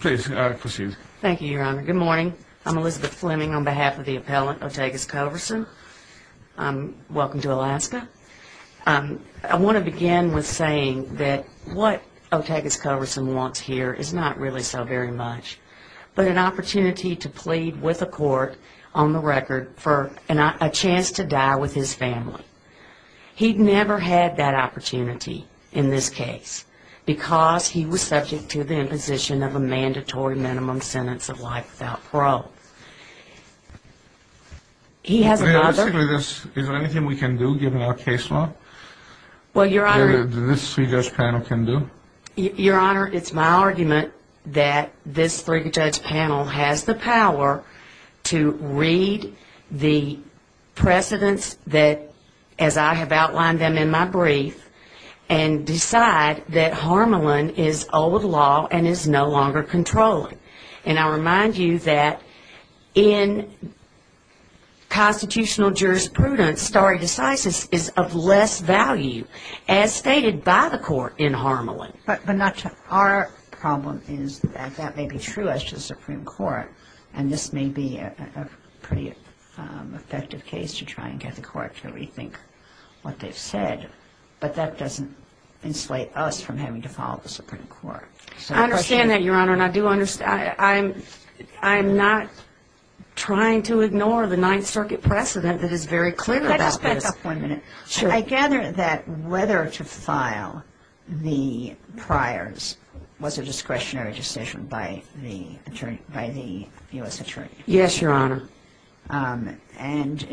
Please proceed. Thank you, Your Honor. Good morning. I'm Elizabeth Fleming on behalf of the appellant, Otagus Coverson. Welcome to Alaska. I want to begin with saying that what Otagus Coverson wants here is not really so very much but an opportunity to plead with a court on the record for a chance to die with his family. He never had that opportunity in this case because he was subject to the imposition of a mandatory minimum sentence of life without parole. Is there anything we can do, given our case law, that this three-judge panel can do? Your Honor, it's my argument that this three-judge panel has the power to read the precedents that, as I have outlined them in my brief, and decide that Harmelin is old law and is no longer controlling. And I remind you that in constitutional jurisprudence, stare decisis is of less value, as stated by the court in Harmelin. But our problem is that that may be true as to the Supreme Court. And this may be a pretty effective case to try and get the court to rethink what they've said. But that doesn't insulate us from having to follow the Supreme Court. I understand that, Your Honor, and I do understand. I'm not trying to ignore the Ninth Circuit precedent that is very clear about this. Can I just back up one minute? Sure. I gather that whether to file the priors was a discretionary decision by the U.S. Attorney. Yes, Your Honor. And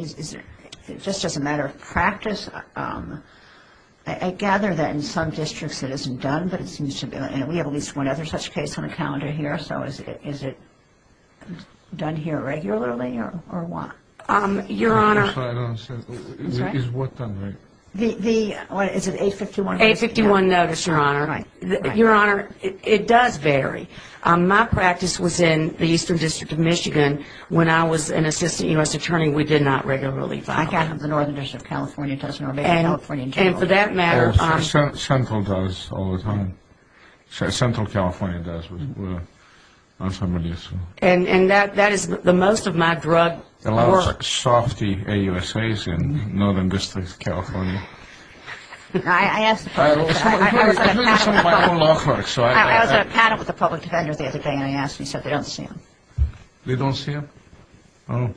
just as a matter of practice, I gather that in some districts it isn't done, but it seems to be, and we have at least one other such case on the calendar here. So is it done here regularly or what? Your Honor. I'm sorry, I don't understand. I'm sorry? Is what done regularly? The, what is it, 851 notice? 851 notice, Your Honor. Right, right. Your Honor, it does vary. My practice was in the Eastern District of Michigan. When I was an assistant U.S. Attorney, we did not regularly file. I can't have the Northern District of California, it doesn't work. And for that matter. Central does all the time. Central California does on some of these. And that is the most of my drug work. A lot of softy AUSAs in Northern District of California. I asked the public. I was at a panel with the public defenders the other day and they asked me, said they don't see them. They don't see them? Oh.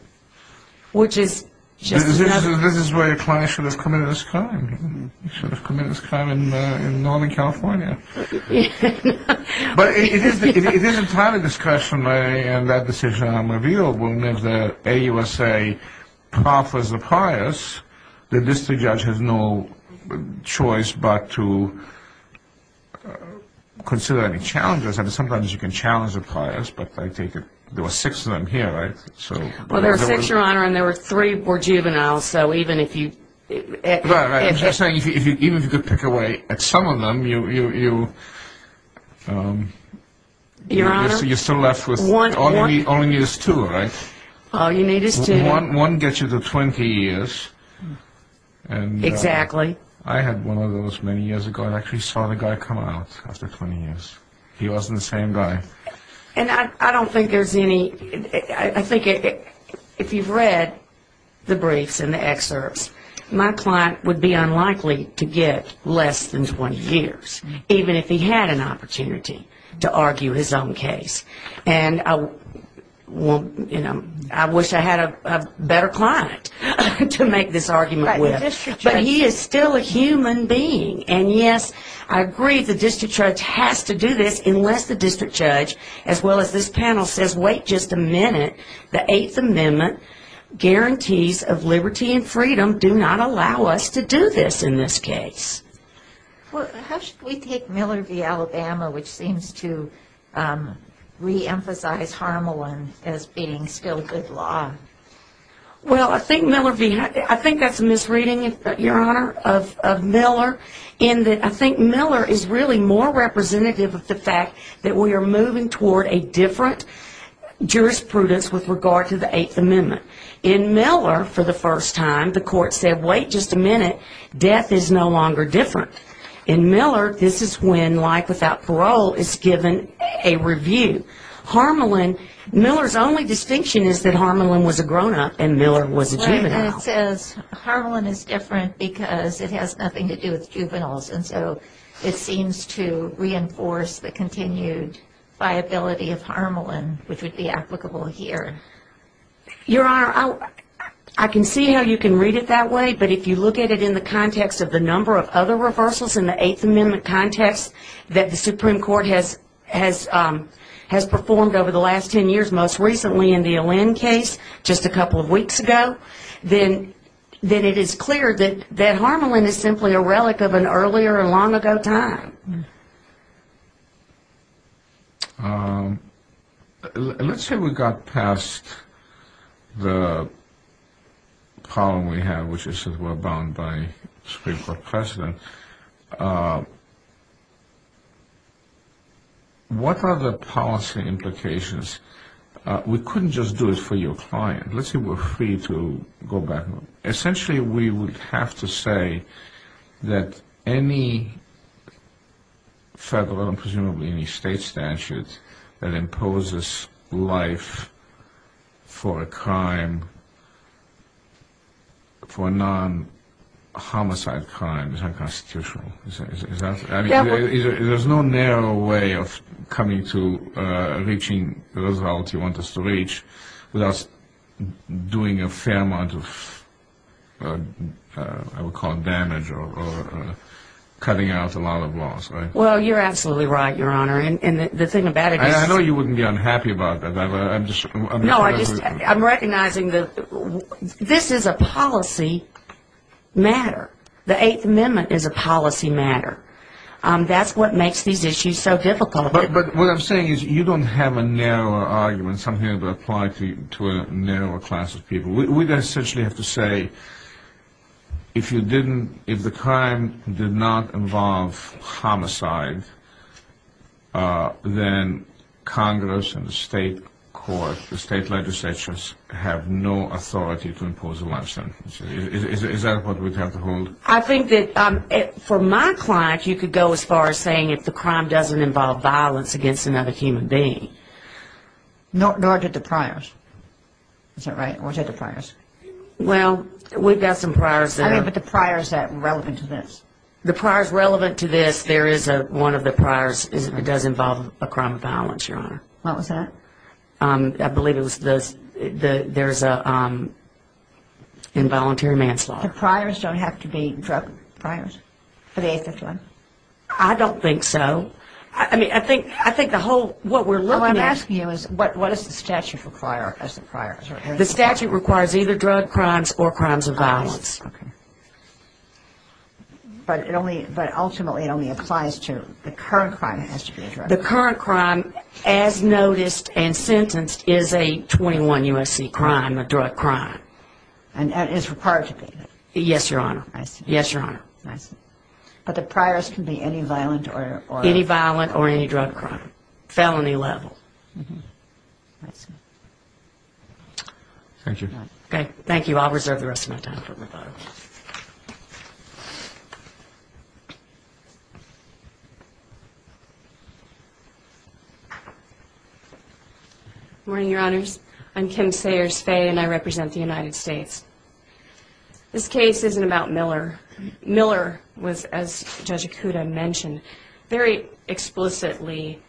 Which is just another. This is where your client should have committed this crime. He should have committed this crime in Northern California. But it is a time of discussion, Mary, and that decision I'm revealed. When the AUSA proffers a priors, the district judge has no choice but to consider any challenges. I mean, sometimes you can challenge a priors, but I take it there were six of them here, right? Well, there were six, Your Honor, and there were three were juveniles. So even if you. I'm just saying even if you could pick away at some of them, you're still left with. All you need is two, right? All you need is two. One gets you to 20 years. Exactly. I had one of those many years ago. I actually saw the guy come out after 20 years. He wasn't the same guy. And I don't think there's any. I think if you've read the briefs and the excerpts, my client would be unlikely to get less than 20 years, even if he had an opportunity to argue his own case. And I wish I had a better client to make this argument with. But he is still a human being. And, yes, I agree the district judge has to do this unless the district judge, as well as this panel, says, wait just a minute. The Eighth Amendment guarantees of liberty and freedom do not allow us to do this in this case. How should we take Miller v. Alabama, which seems to reemphasize Harmelin as being still good law? Well, I think that's a misreading, Your Honor, of Miller, in that I think Miller is really more representative of the fact that we are moving toward a different jurisprudence with regard to the Eighth Amendment. In Miller, for the first time, the court said, wait just a minute. Death is no longer different. In Miller, this is when life without parole is given a review. Harmelin, Miller's only distinction is that Harmelin was a grown-up and Miller was a juvenile. Right, and it says Harmelin is different because it has nothing to do with juveniles. And so it seems to reinforce the continued viability of Harmelin, which would be applicable here. Your Honor, I can see how you can read it that way, but if you look at it in the context of the number of other reversals in the Eighth Amendment context that the Supreme Court has performed over the last 10 years, most recently in the Allend case just a couple of weeks ago, then it is clear that Harmelin is simply a relic of an earlier and long-ago time. Let's say we got past the problem we have, which is that we're bound by Supreme Court precedent. What are the policy implications? We couldn't just do it for your client. Let's say we're free to go back. Essentially, we would have to say that any federal and presumably any state statute that imposes life for a crime, for a non-homicide crime is unconstitutional. There's no narrow way of coming to reaching the result you want us to reach without doing a fair amount of damage or cutting out a lot of loss. Well, you're absolutely right, Your Honor. I know you wouldn't be unhappy about that. No, I'm recognizing that this is a policy matter. The Eighth Amendment is a policy matter. That's what makes these issues so difficult. But what I'm saying is you don't have a narrower argument, something that would apply to a narrower class of people. We would essentially have to say if the crime did not involve homicide, then Congress and the state court, the state legislatures, have no authority to impose a life sentence. Is that what we'd have to hold? I think that for my client, you could go as far as saying if the crime doesn't involve violence against another human being. Nor did the priors. Is that right? Or did the priors? Well, we've got some priors there. I mean, but the priors that are relevant to this. The priors relevant to this, there is one of the priors that does involve a crime of violence, Your Honor. What was that? I believe it was there's involuntary manslaughter. The priors don't have to be drug priors for the 851? I don't think so. I mean, I think the whole what we're looking at. What I'm asking you is what does the statute require as the priors? The statute requires either drug crimes or crimes of violence. Okay. But ultimately it only applies to the current crime that has to be addressed. The current crime, as noticed and sentenced, is a 21 U.S.C. crime, a drug crime. And is required to be. Yes, Your Honor. I see. Yes, Your Honor. I see. But the priors can be any violent or any drug crime, felony level. I see. Thank you. Okay. Thank you. I'll reserve the rest of my time for rebuttal. Good morning, Your Honors. I'm Kim Sayers Faye, and I represent the United States. This case isn't about Miller. Miller was, as Judge Acuda mentioned, very explicitly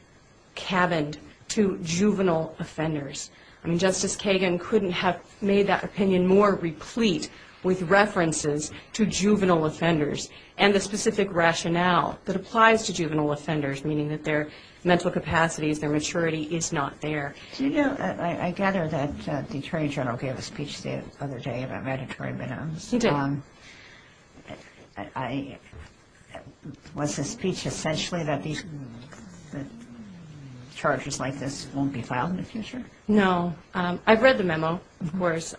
cabined to juvenile offenders. I mean, Justice Kagan couldn't have made that opinion more replete with references to juvenile offenders and the specific rationale that applies to juvenile offenders, meaning that their mental capacities, their maturity is not there. Do you know, I gather that the Attorney General gave a speech the other day about mandatory minimums. He did. Was his speech essentially that these charges like this won't be filed in the future? No. I've read the memo, of course.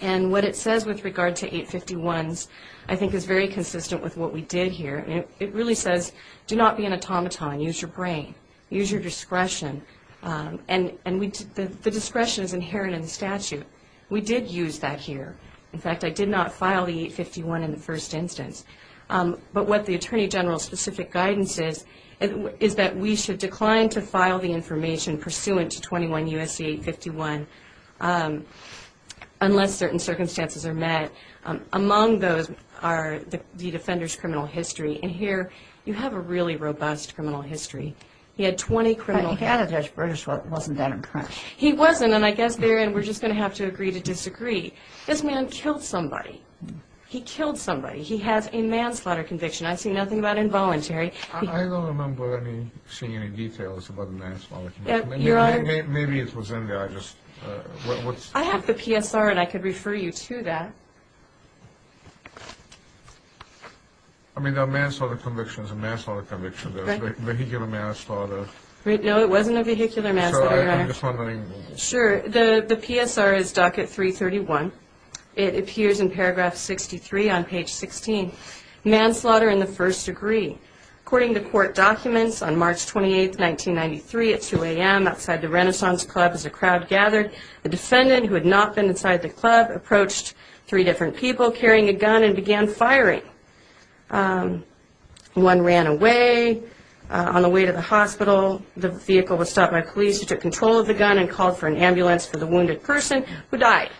And what it says with regard to 851s I think is very consistent with what we did here. It really says do not be an automaton. Use your brain. Use your discretion. And the discretion is inherent in the statute. We did use that here. In fact, I did not file the 851 in the first instance. But what the Attorney General's specific guidance is, is that we should decline to file the information pursuant to 21 U.S.C. 851 unless certain circumstances are met. Among those are the defender's criminal history. And here you have a really robust criminal history. He had 20 criminal cases. He had a Dutch British one. It wasn't that impressed. He wasn't, and I guess therein we're just going to have to agree to disagree. This man killed somebody. He killed somebody. He has a manslaughter conviction. I see nothing about involuntary. I don't remember seeing any details about a manslaughter conviction. Maybe it was in there. I have the PSR, and I could refer you to that. I mean, there are manslaughter convictions and manslaughter convictions. There's vehicular manslaughter. No, it wasn't a vehicular manslaughter, Your Honor. I'm just wondering. Sure. The PSR is docket 331. It appears in paragraph 63 on page 16. Manslaughter in the first degree. According to court documents, on March 28, 1993, at 2 a.m., outside the Renaissance Club as a crowd gathered, a defendant who had not been inside the club approached three different people carrying a gun and began firing. One ran away. On the way to the hospital, the vehicle was stopped by police who took control of the gun and called for an ambulance for the wounded person who died.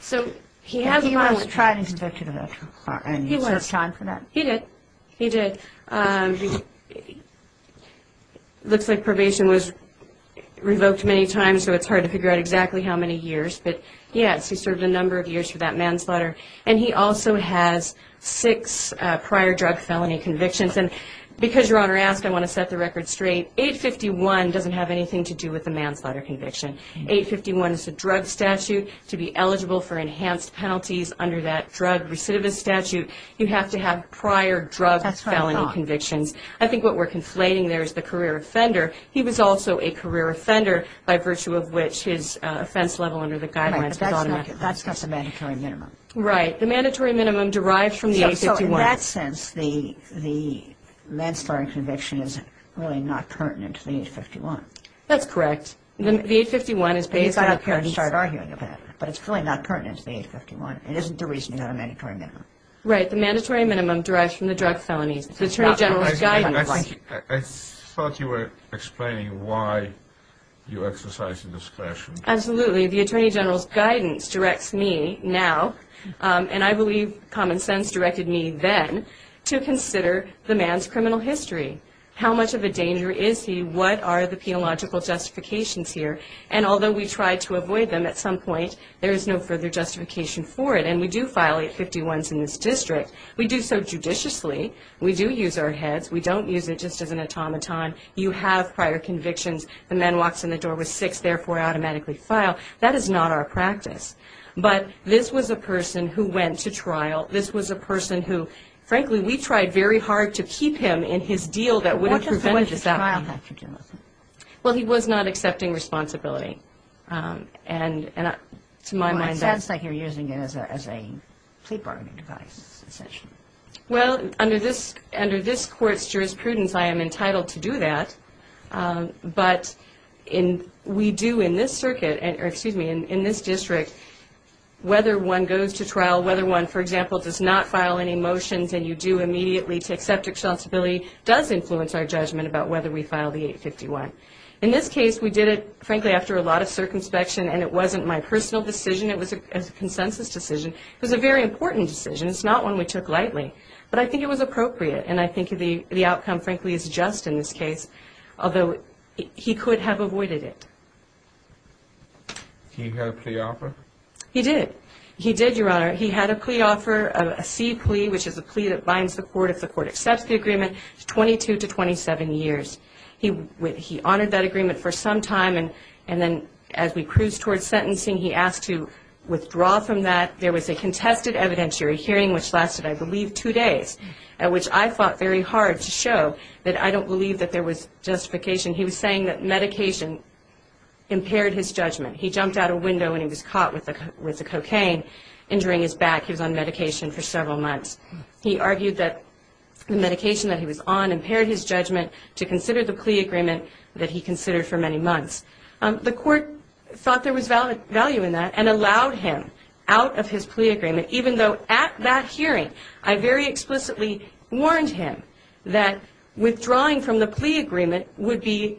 So he has a violent conviction. He was tried and convicted of manslaughter. And he served time for that? He did. He did. It looks like probation was revoked many times, so it's hard to figure out exactly how many years. But, yes, he served a number of years for that manslaughter. And he also has six prior drug felony convictions. And because Your Honor asked, I want to set the record straight. 851 doesn't have anything to do with the manslaughter conviction. 851 is a drug statute. To be eligible for enhanced penalties under that drug recidivist statute, you have to have prior drug felony convictions. That's what I thought. I think what we're conflating there is the career offender. He was also a career offender by virtue of which his offense level under the guidelines was automatic. Right, but that's not the mandatory minimum. Right. The mandatory minimum derived from the 851. So in that sense, the manslaughter conviction is really not pertinent to the 851. That's correct. The 851 is based on the current. You started arguing about it. But it's really not pertinent to the 851. It isn't the reason you have a mandatory minimum. Right. The mandatory minimum derives from the drug felonies. The Attorney General's guidance. I thought you were explaining why you exercise discretion. Absolutely. The Attorney General's guidance directs me now, and I believe common sense directed me then, to consider the man's criminal history. How much of a danger is he? What are the penological justifications here? And although we try to avoid them at some point, there is no further justification for it. And we do file 851s in this district. We do so judiciously. We do use our heads. We don't use it just as an automaton. You have prior convictions. The man walks in the door with six, therefore automatically file. That is not our practice. But this was a person who went to trial. This was a person who, frankly, we tried very hard to keep him in his deal that would have prevented this happening. Well, he was not accepting responsibility. And to my mind that's... Well, it sounds like you're using it as a plea bargaining device, essentially. Well, under this court's jurisprudence, I am entitled to do that. But we do in this circuit, or excuse me, in this district, whether one goes to trial, whether one, for example, does not file any motions and you do immediately to accept responsibility, does influence our judgment about whether we file the 851. In this case, we did it, frankly, after a lot of circumspection, and it wasn't my personal decision. It was a consensus decision. It was a very important decision. It's not one we took lightly. But I think it was appropriate, and I think the outcome, frankly, is just in this case, although he could have avoided it. He did. He did, Your Honor. He had a plea offer, a C plea, which is a plea that binds the court if the court accepts the agreement, 22 to 27 years. He honored that agreement for some time, and then as we cruised towards sentencing, he asked to withdraw from that. There was a contested evidentiary hearing, which lasted, I believe, two days, at which I fought very hard to show that I don't believe that there was justification. He was saying that medication impaired his judgment. He jumped out a window and he was caught with the cocaine, injuring his back. He was on medication for several months. He argued that the medication that he was on impaired his judgment to consider the plea agreement that he considered for many months. The court thought there was value in that and allowed him out of his plea agreement, even though at that hearing I very explicitly warned him that withdrawing from the plea agreement would be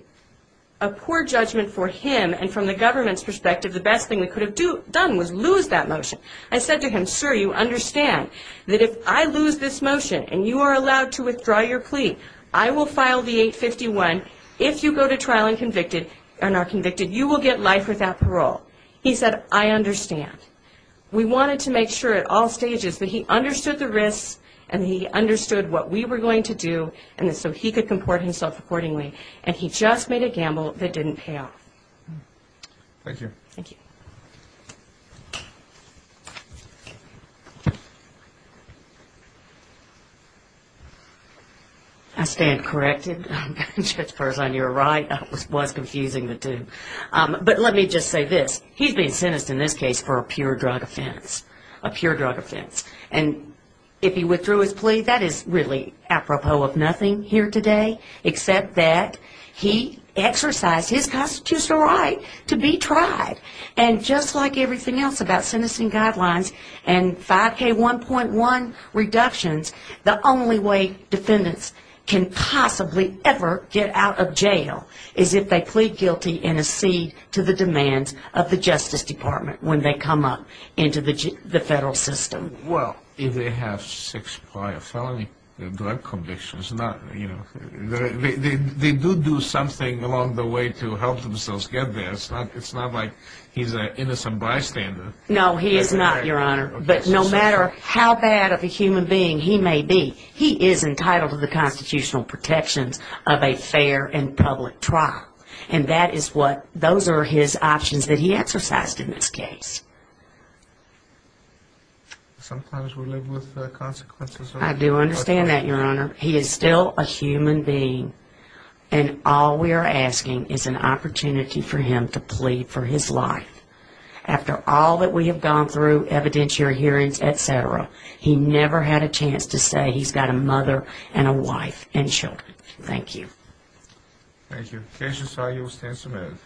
a poor judgment for him, and from the government's perspective, the best thing we could have done was lose that motion. I said to him, Sir, you understand that if I lose this motion and you are allowed to withdraw your plea, I will file the 851. If you go to trial and are convicted, you will get life without parole. He said, I understand. And he understood what we were going to do so he could comport himself accordingly, and he just made a gamble that didn't pay off. Thank you. Thank you. I stand corrected. As far as I knew, I was confusing the two. But let me just say this. He's being sentenced in this case for a pure drug offense, a pure drug offense. And if he withdrew his plea, that is really apropos of nothing here today, except that he exercised his constitutional right to be tried. And just like everything else about sentencing guidelines and 5K1.1 reductions, the only way defendants can possibly ever get out of jail is if they plead guilty and accede to the demands of the Justice Department when they come up into the federal system. Well, if they have six prior felony drug convictions, they do do something along the way to help themselves get there. It's not like he's an innocent bystander. No, he is not, Your Honor. But no matter how bad of a human being he may be, he is entitled to the constitutional protections of a fair and public trial. And that is what those are his options that he exercised in this case. Sometimes we live with consequences. I do understand that, Your Honor. He is still a human being, and all we are asking is an opportunity for him to plead for his life. After all that we have gone through, evidentiary hearings, et cetera, he never had a chance to say he's got a mother and a wife and children. Thank you. Thank you. The case is filed. You will stand some minutes.